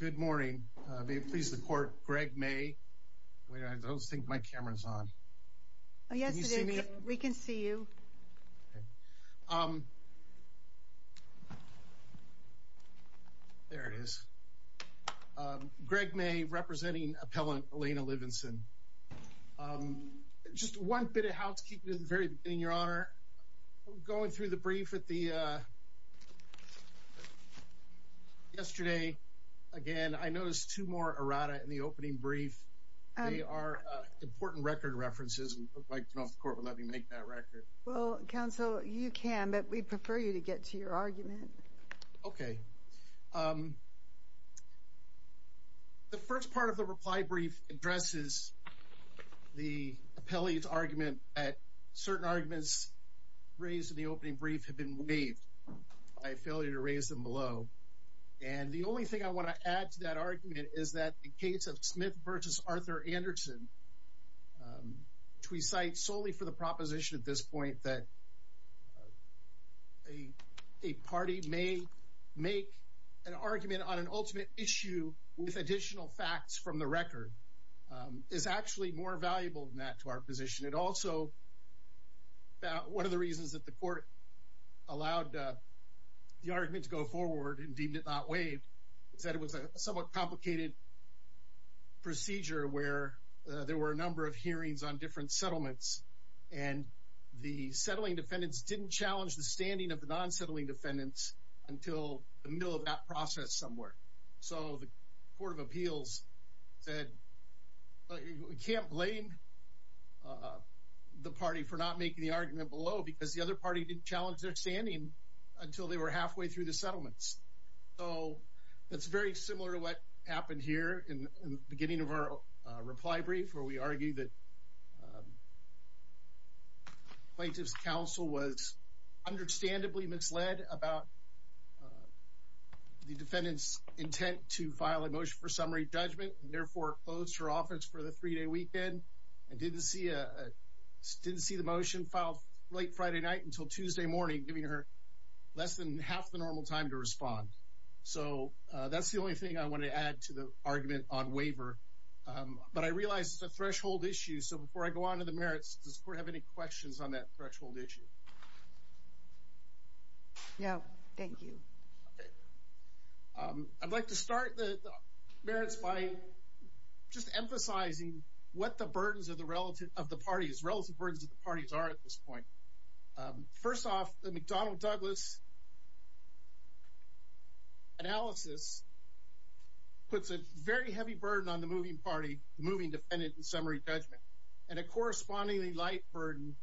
Good morning. May it please the court, Greg May. Wait a minute, I don't think my camera's on. Can you see me? We can see you. There it is. Greg May, representing appellant Elena Livenson. Just one bit of housekeeping in your honor. Going through the brief with the yesterday. Again, I noticed two more errata in the opening brief. They are important record references and it looks like the court will let me make that record. Well, counsel, you can, but we prefer you to get to your argument. Okay. The first part of the reply brief addresses the appellee's argument that certain arguments raised in the opening brief have been waived by a failure to raise them below. And the only thing I want to add to that argument is that the case of Smith versus Arthur Anderson, which we cite solely for the proposition at this point that a party may make an argument on an ultimate issue with additional facts from the record, is actually more valuable than that to our position. It also, one of the reasons that the court allowed the argument to go forward and deemed it not waived, is that it was a somewhat complicated procedure where there were a number of hearings on different settlements and the settling defendants didn't challenge the standing of the non-settling defendants until the Court of Appeals said, we can't blame the party for not making the argument below because the other party didn't challenge their standing until they were halfway through the settlements. So that's very similar to what happened here in the beginning of our reply brief where we argue that plaintiff's counsel was understandably misled about the defendant's intent to file a motion for summary judgment and therefore closed her office for the three-day weekend and didn't see a didn't see the motion filed late Friday night until Tuesday morning giving her less than half the normal time to respond. So that's the only thing I want to add to the argument on waiver. But I realize it's a threshold issue so before I go on to the merits, does the court have any questions on that threshold issue? No, thank you. I'd like to start the merits by just emphasizing what the burdens of the relative of the parties, relative burdens of the parties are at this point. First off, the McDonnell-Douglas analysis puts a very heavy burden on the moving party, the moving defendant in summary judgment and a correspondingly light burden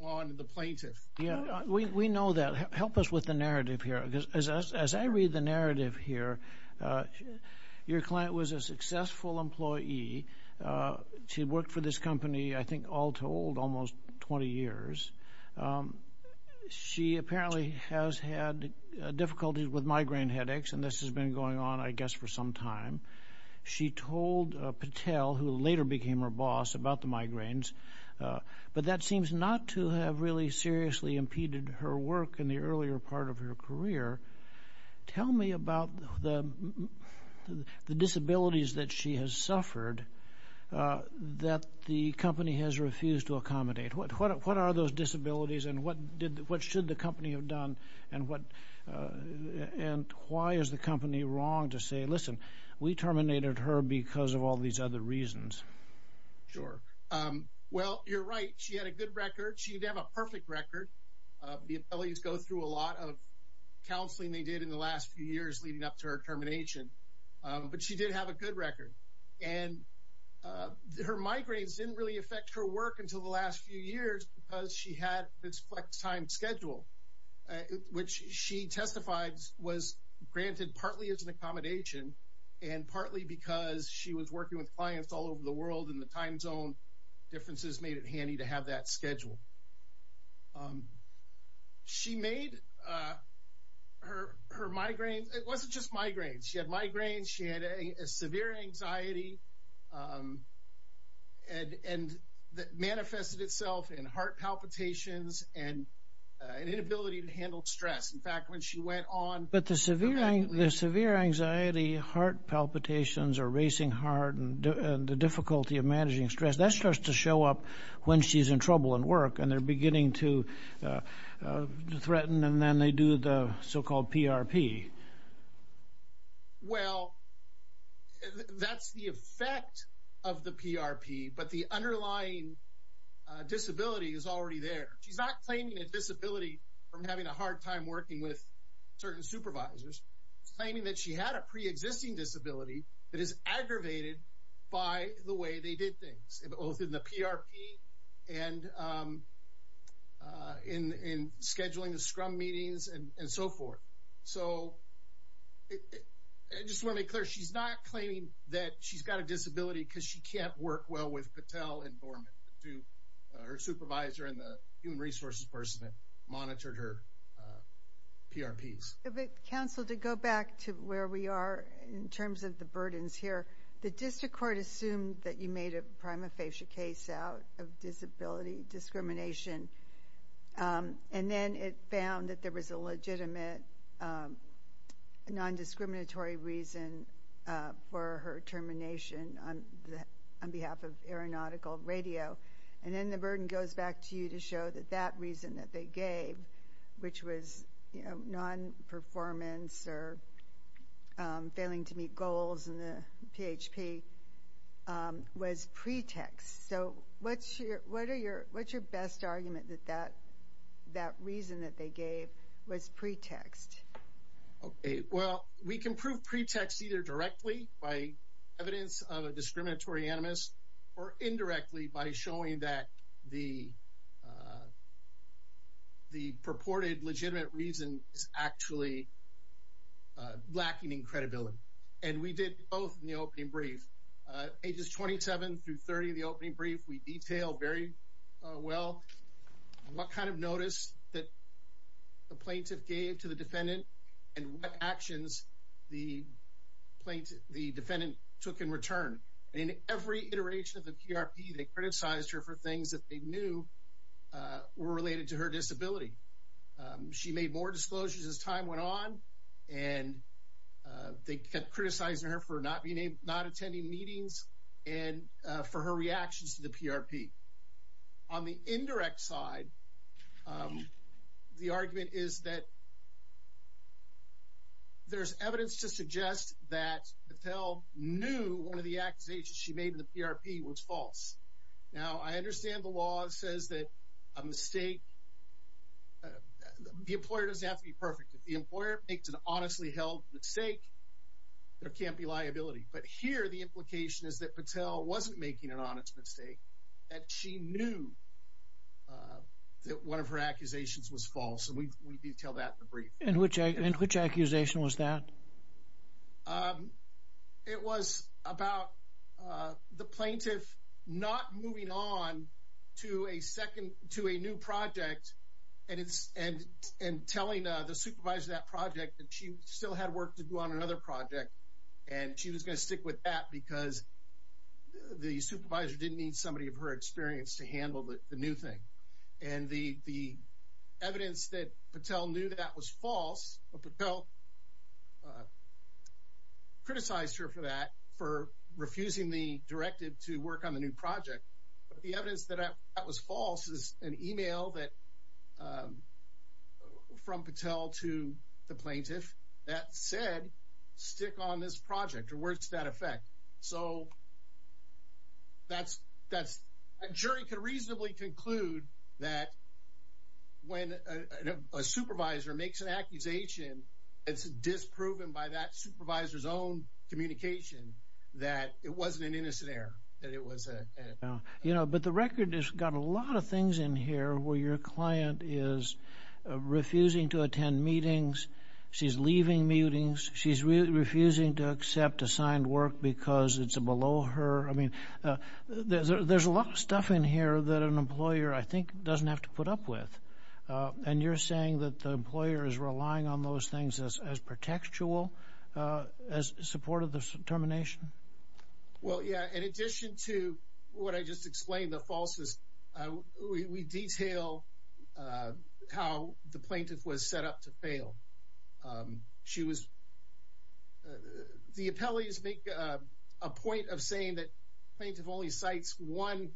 on the plaintiff. Yeah, we know that. Help us with the narrative here because as I read the narrative here, your client was a successful employee. She worked for this company I think all told almost 20 years. She apparently has had difficulties with migraine headaches and this has been going on I guess for some time. She told Patel, who later became her migraines. But that seems not to have really seriously impeded her work in the earlier part of her career. Tell me about the disabilities that she has suffered that the company has refused to accommodate. What are those disabilities and what should the company have done and why is the company wrong to say, listen, we terminated her because of all these other reasons? Sure, well you're right. She had a good record. She didn't have a perfect record. The abilities go through a lot of counseling they did in the last few years leading up to her termination. But she did have a good record and her migraines didn't really affect her work until the last few years because she had this flex time schedule, which she testified was granted partly as an all over the world in the time zone. Differences made it handy to have that schedule. She made her migraines, it wasn't just migraines, she had migraines, she had a severe anxiety and that manifested itself in heart palpitations and an inability to handle stress. In fact when she went on. But the severe anxiety, heart palpitations or racing heart and the difficulty of managing stress, that starts to show up when she's in trouble at work and they're beginning to threaten and then they do the so-called PRP. Well, that's the effect of the PRP, but the underlying disability is already there. She's not claiming a disability from having a hard time working with certain supervisors. Claiming that she had a pre-existing disability that is aggravated by the way they did things, both in the PRP and in scheduling the scrum meetings and so forth. So I just want to make clear, she's not claiming that she's got a disability because she can't work well with Patel and Norman, her supervisor and the resources person that monitored her PRPs. Counsel, to go back to where we are in terms of the burdens here, the district court assumed that you made a prima facie case out of disability discrimination and then it found that there was a legitimate non-discriminatory reason for her termination on behalf of aeronautical radio and then the burden goes back to you to show that that reason that they gave, which was non-performance or failing to meet goals in the PHP, was pretext. So what's your best argument that that reason that they gave was pretext? Well, we can prove pretext either directly by evidence of a discriminatory animus or the purported legitimate reason is actually lacking in credibility and we did both in the opening brief. Ages 27 through 30 of the opening brief, we detailed very well what kind of notice that the plaintiff gave to the defendant and what actions the defendant took in return. In every iteration of the were related to her disability. She made more disclosures as time went on and they kept criticizing her for not being able not attending meetings and for her reactions to the PRP. On the indirect side, the argument is that there's evidence to suggest that Patel knew one of the accusations she made in the PRP was false. Now, I understand the law says that a mistake, the employer doesn't have to be perfect. If the employer makes an honestly held mistake, there can't be liability. But here the implication is that Patel wasn't making an honest mistake, that she knew that one of her accusations was false and we detailed that in the brief. And which accusation was that? It was about the plaintiff not moving on to a new project and telling the supervisor of that project that she still had work to do on another project and she was going to stick with that because the supervisor didn't need somebody of her that was false. Patel criticized her for that, for refusing the directive to work on the new project. But the evidence that that was false is an email that from Patel to the plaintiff that said stick on this project or words to that effect. So, a jury could reasonably conclude that when a supervisor makes an accusation, it's disproven by that supervisor's own communication that it wasn't an innocent error. But the record has got a lot of things in here where your client is refusing to attend meetings, she's leaving meetings, she's refusing to accept assigned work because it's below her. I mean, there's a lot of stuff in here that an employer, I think, doesn't have to put up with. And you're saying that the employer is relying on those things as protectual, as supportive of the termination? Well, yeah, in addition to what I just explained, the plaintiff was set up to fail. The appellees make a point of saying that plaintiff only cites one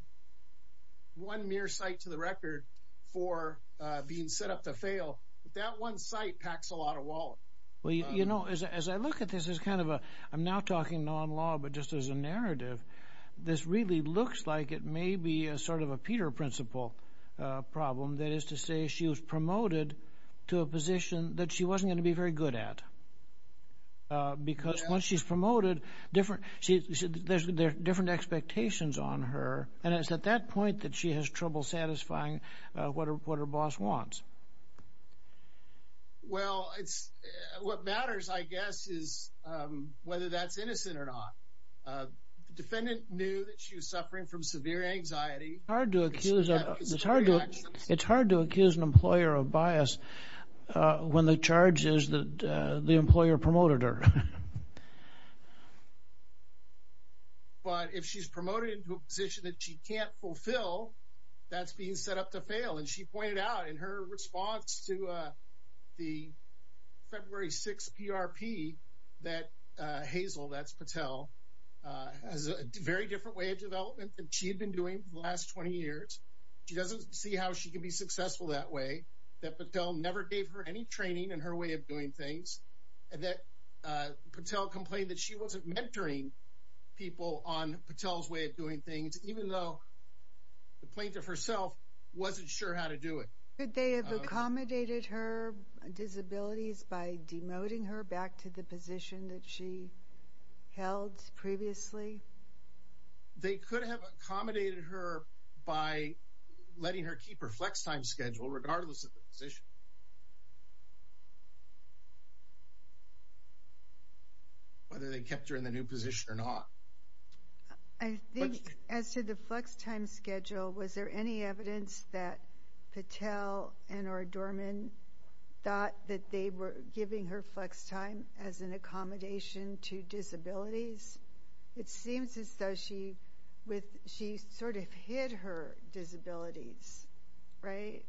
mere site to the record for being set up to fail. That one site packs a lot of wallet. Well, you know, as I look at this as kind of a, I'm now talking non-law, but just as a narrative, this really looks like it was promoted to a position that she wasn't going to be very good at. Because once she's promoted, there's different expectations on her, and it's at that point that she has trouble satisfying what her boss wants. Well, what matters, I guess, is whether that's innocent or not. The defendant knew that it's hard to accuse an employer of bias when the charge is that the employer promoted her. But if she's promoted into a position that she can't fulfill, that's being set up to fail. And she pointed out in her response to the February 6 PRP that Hazel, that's Patel, has a very different way of development than she had been doing for the last 20 years. She doesn't see how she can be successful that way. That Patel never gave her any training in her way of doing things. And that Patel complained that she wasn't mentoring people on Patel's way of doing things, even though the plaintiff herself wasn't sure how to do it. Could they have accommodated her disabilities by demoting her back to the I think as to the flex time schedule, was there any evidence that Patel and or Dorman thought that they were giving her flex time as an accommodation to disabilities? It seems as though she sort of hid her disabilities, right?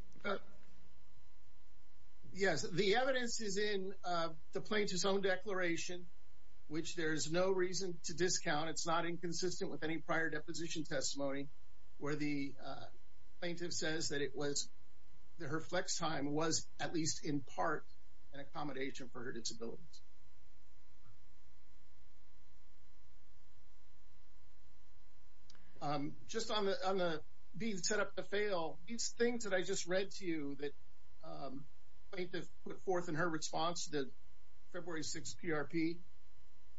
Yes, the evidence is in the plaintiff's own declaration, which there's no reason to discount. It's not inconsistent with any prior deposition testimony where the plaintiff says that it was that her flex time was at least in part an accommodation for her disabilities. Just on the being set up to fail, these things that I just read to you that the plaintiff put forth in her response to the February 6 PRP,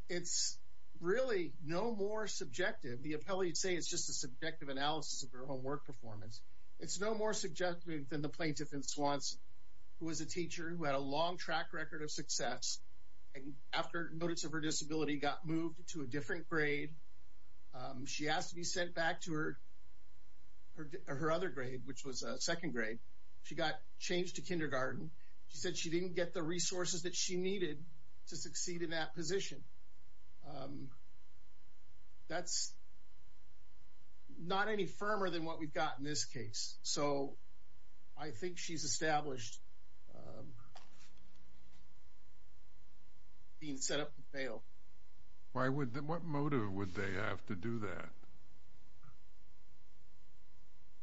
it's really no more subjective. The appellee would say it's just a subjective analysis of her own work performance. It's no more subjective than the plaintiff in Swanson, who was a teacher who had a long track record of success. And after notice of her disability, got moved to a different grade. She has to be sent back to her or her other grade, which was a second grade. She got changed to kindergarten. She said she didn't get the resources that she needed to succeed in that position. That's not any firmer than what we've got in this case. So I think she's established being set up to fail. Why would that what motive would they have to do that?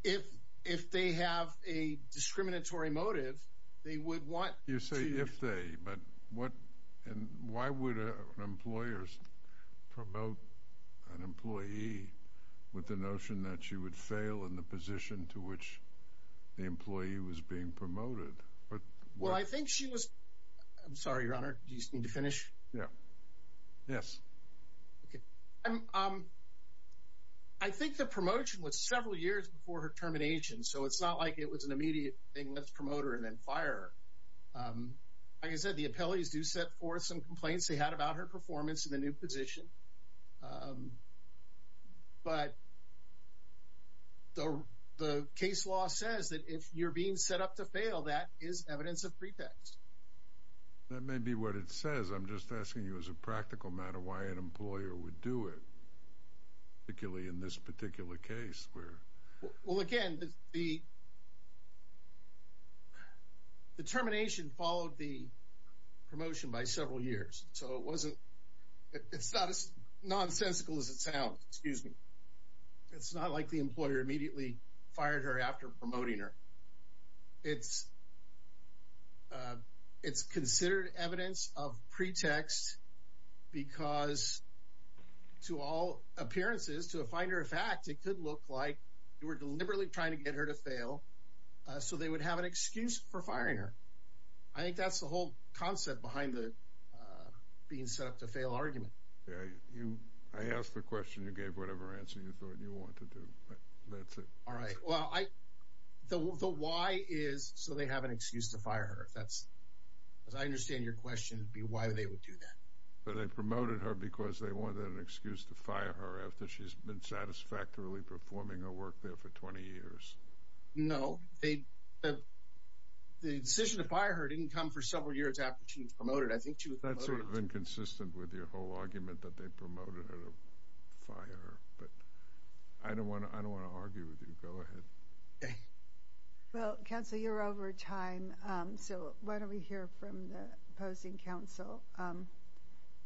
If, if they have a discriminatory motive, they would want you say if they but what and why would employers promote an employee with the notion that she would fail in the position to which the employee was being promoted? Well, I think she was. I'm sorry, your honor. Do you need to finish? Yeah. Yes. Okay. I think the promotion was several years before her termination. So it's not like it was an immediate thing. Let's promote her and then fire. Like I said, the appellees do set forth some complaints they had about her performance in the new position. But the case law says that if you're being set up to fail, that is evidence of pretext. That may be what it says. I'm just asking you as a practical matter why an employer would do it. Particularly in this particular case where well, again, the determination followed the promotion by several years. So it wasn't. It's not as nonsensical as it sounds. Excuse me. It's not like the employer immediately fired her after promoting her. It's it's considered evidence of pretext, because to all appearances to a finder of fact, it could look like you were deliberately trying to get her to fail. So they would have an excuse for firing her. I think that's the whole concept behind the being set up to fail argument. Yeah, you I asked the question you gave whatever answer you thought you want to do. That's it. All right. Well, I don't know why is so they have an excuse to fire her. That's as I understand your question be why they would do that. But I promoted her because they wanted an excuse to fire her after she's been satisfactorily performing her work there for 20 years. No, they the decision to fire her didn't come for several years after she was promoted. I think that's sort of inconsistent with your whole argument that they promoted her to fire her. But I don't want to I don't want to argue with you. Go ahead. Well, Council, you're over time. So why don't we hear from the opposing council.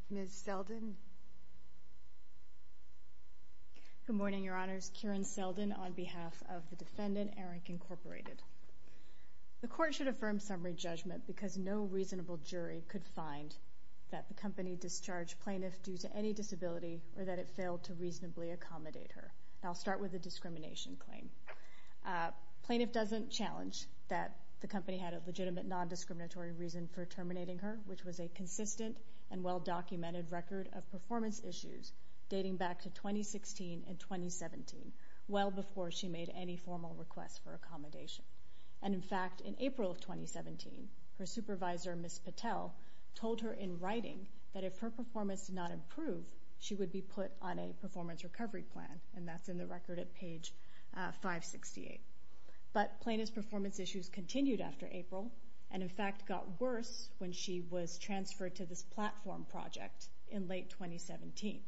Ms. Selden. Good morning, Your Honors. Karen Selden on behalf of the defendant, Eric Incorporated. The court should affirm summary judgment because no reasonable jury could find that the company discharged plaintiff due to any disability or that it failed to reasonably accommodate her. I'll start with the discrimination claim. Plaintiff doesn't challenge that the company had a legitimate non-discriminatory reason for terminating her, which was a consistent and well-documented record of performance issues dating back to 2016 and 2017, well before she made any formal request for accommodation. And in fact, in April of 2017, her supervisor, Ms. Patel, told her in writing that if her performance did not improve, she would be put on a performance recovery plan. And that's in the record at page 568. But plaintiff's performance issues continued after April and, in fact, got worse when she was transferred to this platform project in late 2017.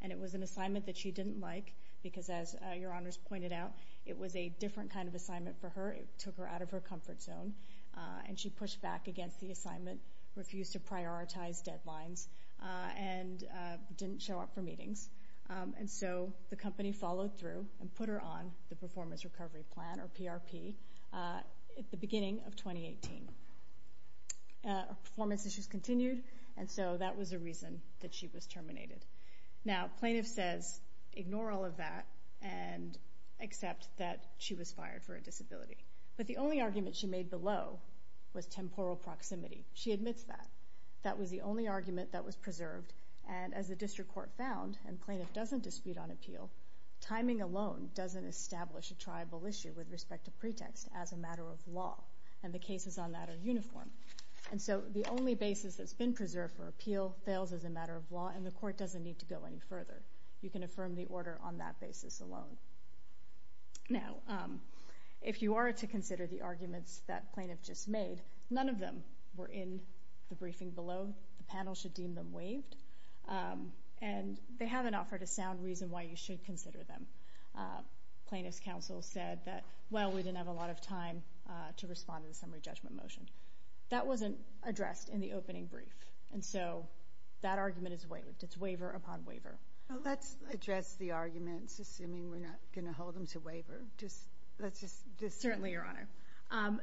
And it was an assignment that she didn't like because, as Your Honors pointed out, it was a different kind of assignment for her. It took her out of her comfort zone and she pushed back against the assignment, refused to prioritize deadlines and didn't show up for meetings. And so the company followed through and put her on the performance recovery plan, or PRP, at the beginning of 2018. Her performance issues continued, and so that was a reason that she was terminated. Now, plaintiff says, ignore all of that and accept that she was fired for a disability. But the only argument she made below was temporal proximity. She admits that that was the only argument that was preserved. And as the district court found, and plaintiff doesn't dispute on appeal, timing alone doesn't establish a tribal issue with respect to pretext as a matter of law. And the cases on that are uniform. And so the only basis that's been preserved for appeal fails as a matter of law and the court doesn't need to go any further. You can affirm the order on that basis alone. Now, if you are to consider the arguments that plaintiff just made, none of them were in the briefing below. The panel should deem them waived. And they haven't offered a sound reason why you should consider them. Plaintiff's counsel said that, well, we didn't have a lot of time to respond to the summary judgment motion. That wasn't addressed in the opening brief. And so that argument is waived. It's waiver upon waiver. Well, let's address the arguments, assuming we're not going to hold them to waiver. Just let's just... Certainly, Your Honor.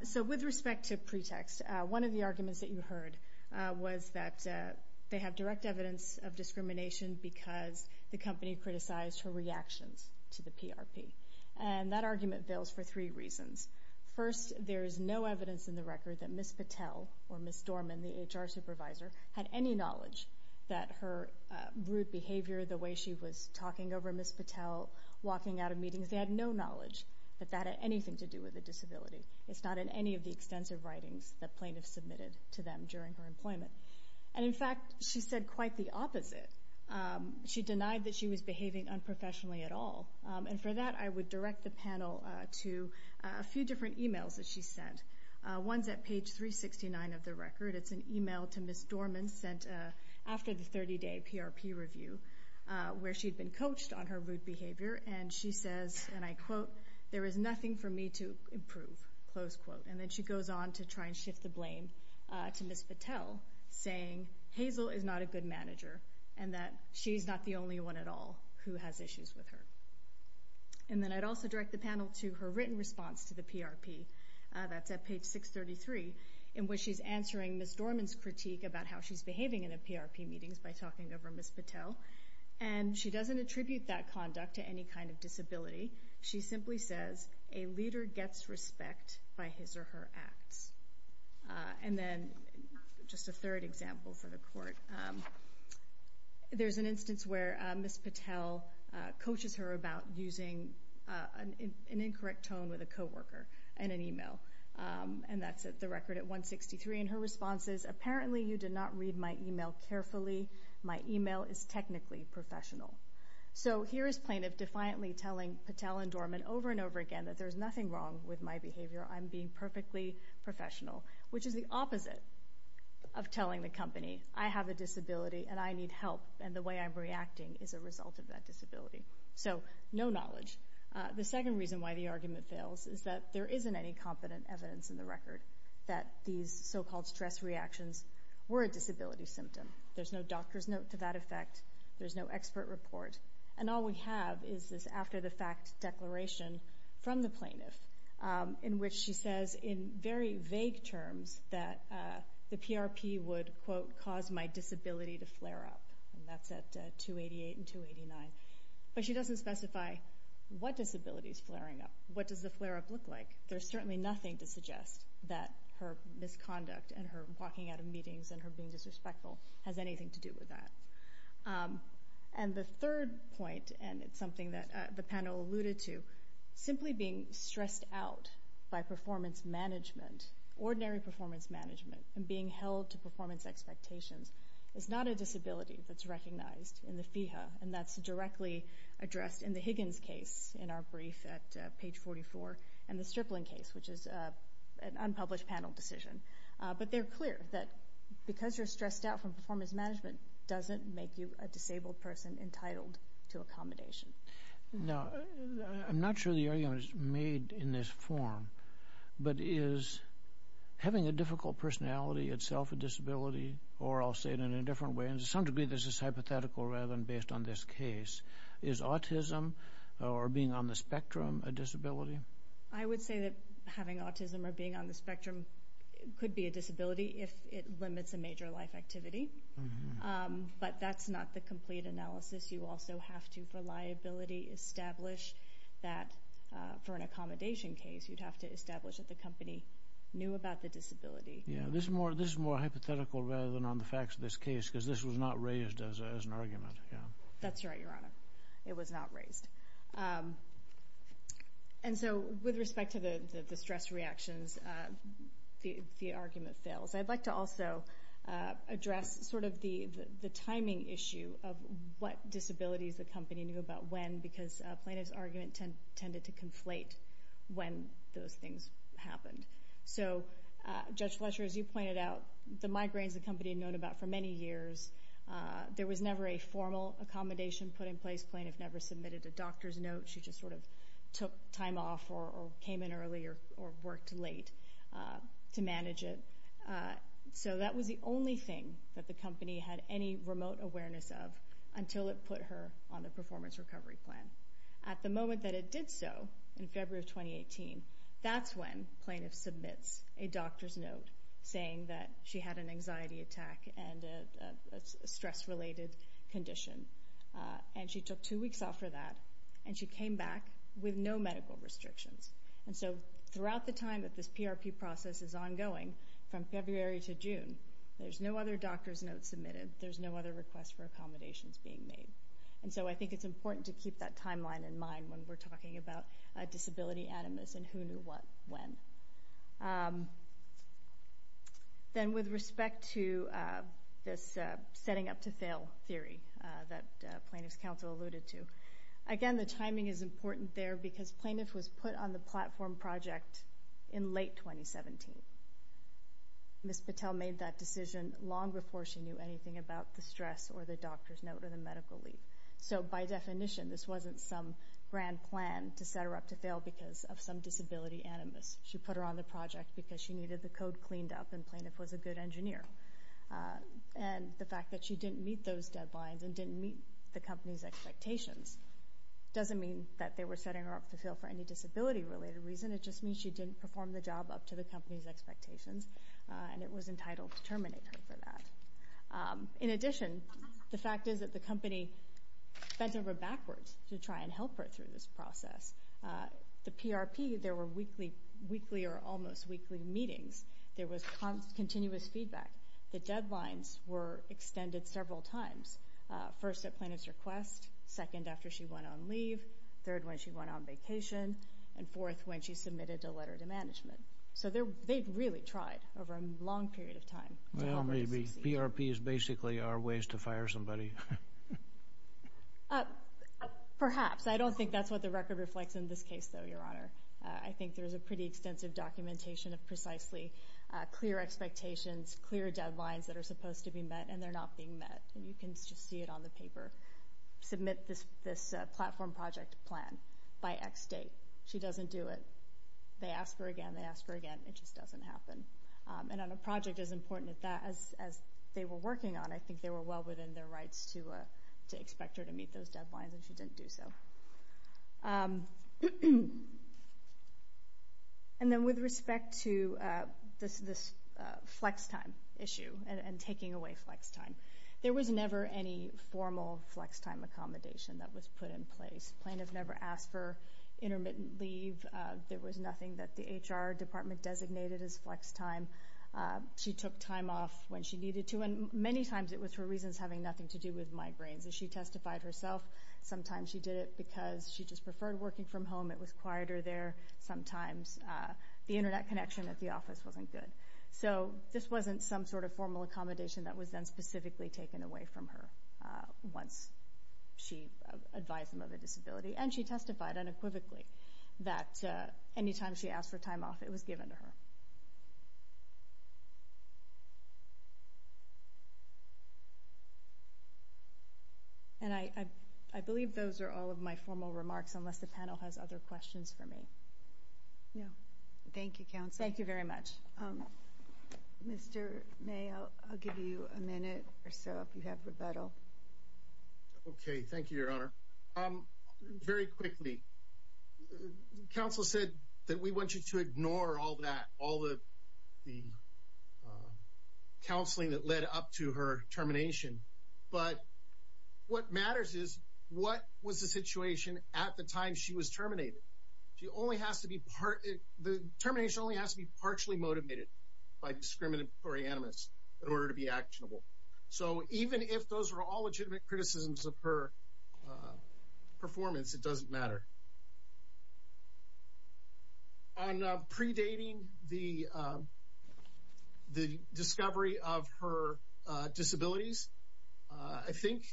So with respect to pretext, one of the arguments that you heard was that they have direct evidence of discrimination because the company criticized her reactions to the PRP. And that argument veils for three reasons. First, there is no evidence in the record that Ms. Patel or Ms. Dorman, the HR supervisor, had any knowledge that her rude behavior, the way she was talking over Ms. Patel, walking out of meetings. They had no knowledge that that had anything to do with a disability. It's not in any of the extensive writings that plaintiffs submitted to them during her employment. And in fact, she said quite the opposite. She denied that she was behaving unprofessionally at all. And for that, I would direct the panel to a few different emails that she sent. One's at page 369 of the record. It's an email to Ms. Dorman sent after the 30-day PRP review where she'd been coached on her rude behavior. And she says, and I quote, there is nothing for me to improve, close quote. And then she goes on to try and shift the blame to Ms. Patel, saying, Hazel is not a good manager and that she's not the only one at all who has issues with her. And then I'd also direct the panel to her written response to the PRP. That's at page 633, in which she's answering Ms. Dorman's critique about how she's behaving in a PRP meetings by talking over Ms. Dorman's kind of disability. She simply says, a leader gets respect by his or her acts. And then just a third example for the court. There's an instance where Ms. Patel coaches her about using an incorrect tone with a coworker in an email. And that's at the record at 163. And her response is, apparently you did not read my email carefully. My email is technically professional. So here is plaintiff defiantly telling Patel and Dorman over and over again that there's nothing wrong with my behavior. I'm being perfectly professional, which is the opposite of telling the company, I have a disability and I need help. And the way I'm reacting is a result of that disability. So no knowledge. The second reason why the argument fails is that there isn't any competent evidence in the record that these so-called stress reactions were a disability symptom. There's no doctor's note to that effect. There's no expert report. And all we have is this after-the-fact declaration from the plaintiff, in which she says in very vague terms that the PRP would, quote, cause my disability to flare up. And that's at 288 and 289. But she doesn't specify what disability is flaring up. What does the flare up look like? There's certainly nothing to suggest that her misconduct and her walking out of meetings and her being disrespectful has anything to do with that. And the third point, and it's something that the panel alluded to, simply being stressed out by performance management, ordinary performance management, and being held to performance expectations is not a disability that's recognized in the FEHA. And that's directly addressed in the Higgins case in our brief at page 44 and the Stripling case, which is an unpublished panel decision. But they're clear that because you're stressed out from performance management doesn't make you a disabled person entitled to accommodation. Now, I'm not sure the argument is made in this form, but is having a difficult personality itself a disability? Or, I'll say it in a different way, and to some degree this is hypothetical rather than based on this case, is autism or being on the spectrum a disability? I would say that having autism or being on the spectrum could be a disability if it limits a major life activity. But that's not the complete analysis. You also have to, for liability, establish that for an accommodation case, you'd have to establish that the company knew about the disability. Yeah, this is more hypothetical rather than on the facts of this case, because this was not raised as an argument. That's right, Your Honor. It was not raised. And so, with respect to the stress reactions, the argument fails. I'd like to also address sort of the timing issue of what disabilities the company knew about when, because plaintiff's argument tended to conflate when those things happened. So, Judge Fletcher, as you pointed out, the migraines the company had known about for many years, there was never a formal accommodation put in place. Plaintiff never submitted a doctor's note. She just sort of took time off or came in early or worked late to manage it. So, that was the only thing that the company had any remote awareness of until it put her on the performance recovery plan. At the moment that it did so, in February of 2018, that's when plaintiff submits a doctor's note saying that she had an anxiety attack and a stress-related condition. And she took two weeks off for that, and she came back with no medical restrictions. And so, throughout the time that this PRP process is ongoing, from February to June, there's no other doctor's notes submitted. There's no other requests for accommodations being made. And so, I think it's important to keep that timeline in mind when we're talking about disability animus and who knew what when. Then, with respect to this setting up to fail theory that plaintiff's counsel alluded to, again, the timing is important there because plaintiff was put on the platform project in late 2017. Ms. Patel made that decision long before she knew anything about the stress or the doctor's note or the medical leave. So, by definition, this wasn't some grand plan to set her up to fail because of some disability animus. She put her on the project because she needed the code cleaned up and plaintiff was a good engineer. And the fact that she didn't meet those deadlines and didn't meet the company's expectations doesn't mean that they were setting her up to fail for any disability-related reason. It just means she didn't perform the job up to the company's expectations, and it was entitled to terminate her for that. In addition, the fact is that the company bent over backwards to try and help her through this process. The PRP, there were weekly or almost weekly meetings. There was continuous feedback. The deadlines were extended several times, first, at plaintiff's request, second, after she went on leave, third, when she went on vacation, and fourth, when she submitted a letter to management. So, they really tried over a long period of time. Well, maybe PRP is basically our ways to fire somebody. Perhaps. I don't think that's what the record reflects in this case, though, Your Honor. I think there's a pretty extensive documentation of precisely clear expectations, clear deadlines that are supposed to be met and they're not being met. And you can just see it on the paper, submit this platform project plan by X date. She doesn't do it. They ask her again, they ask her again, it just doesn't happen. And on a project as important as that, as they were working on, I think they were well within their rights to do it. To expect her to meet those deadlines, and she didn't do so. And then with respect to this flex time issue and taking away flex time, there was never any formal flex time accommodation that was put in place. Plaintiff never asked for intermittent leave. There was nothing that the HR department designated as flex time. She took time off when she needed to, and many times it was for reasons having nothing to do with migraines. As she testified herself, sometimes she did it because she just preferred working from home, it was quieter there. Sometimes the internet connection at the office wasn't good. So this wasn't some sort of formal accommodation that was then specifically taken away from her once she advised them of a disability. And she testified unequivocally that any time she asked for time off, it was given to her. And I believe those are all of my formal remarks, unless the panel has other questions for me. Thank you, Counsel. Thank you very much. Mr. May, I'll give you a minute or so if you have rebuttal. Okay, thank you, Your Honor. Very quickly, Counsel said that we want you to ignore all that, all the counseling that led up to her termination. But what matters is what was the situation at the time she was terminated. The termination only has to be partially motivated by discriminatory animus in order to be actionable. So even if those are all legitimate criticisms of her performance, it doesn't matter. On predating the discovery of her disabilities, I think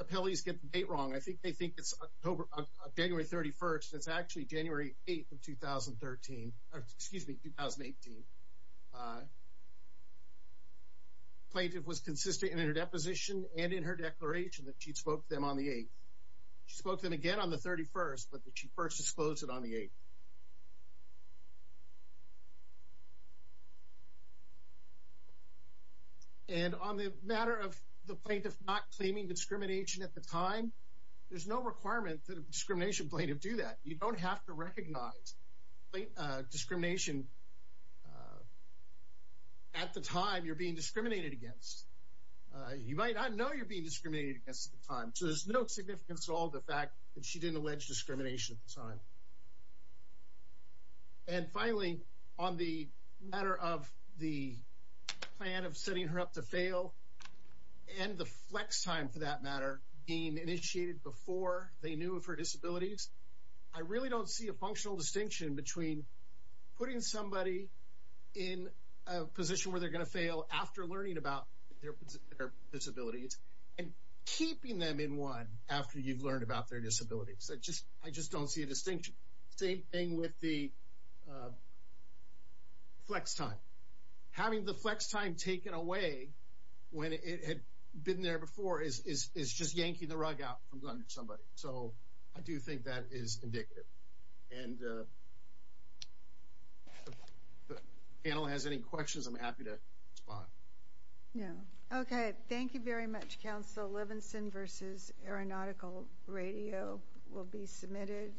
appellees get the date wrong. I think they think it's January 31st. It's actually January 8th of 2013, excuse me, 2018. The plaintiff was consistent in her deposition and in her declaration that she spoke to them on the 8th. She spoke to them again on the 31st, but that she first disclosed it on the 8th. And on the matter of the plaintiff not claiming discrimination at the time, there's no requirement that a discrimination plaintiff do that. You don't have to recognize discrimination at the time you're being discriminated against. You might not know you're being discriminated against at the time, so there's no significance at all to the fact that she didn't allege discrimination at the time. And finally, on the matter of the plan of setting her up to fail, and the flex time, for that matter, being initiated before they knew of her disabilities, I really don't see a functional distinction between putting somebody in a position where they're going to fail after learning about their disabilities and keeping them in one after you've learned about their disabilities. I just don't see a distinction. Same thing with the flex time. Having the flex time taken away when it had been there before is just yanking the rug out from under somebody. So I do think that is indicative. And if the panel has any questions, I'm happy to respond. Okay. Thank you very much, Counsel. Levinson v. Aeronautical Radio will be submitted.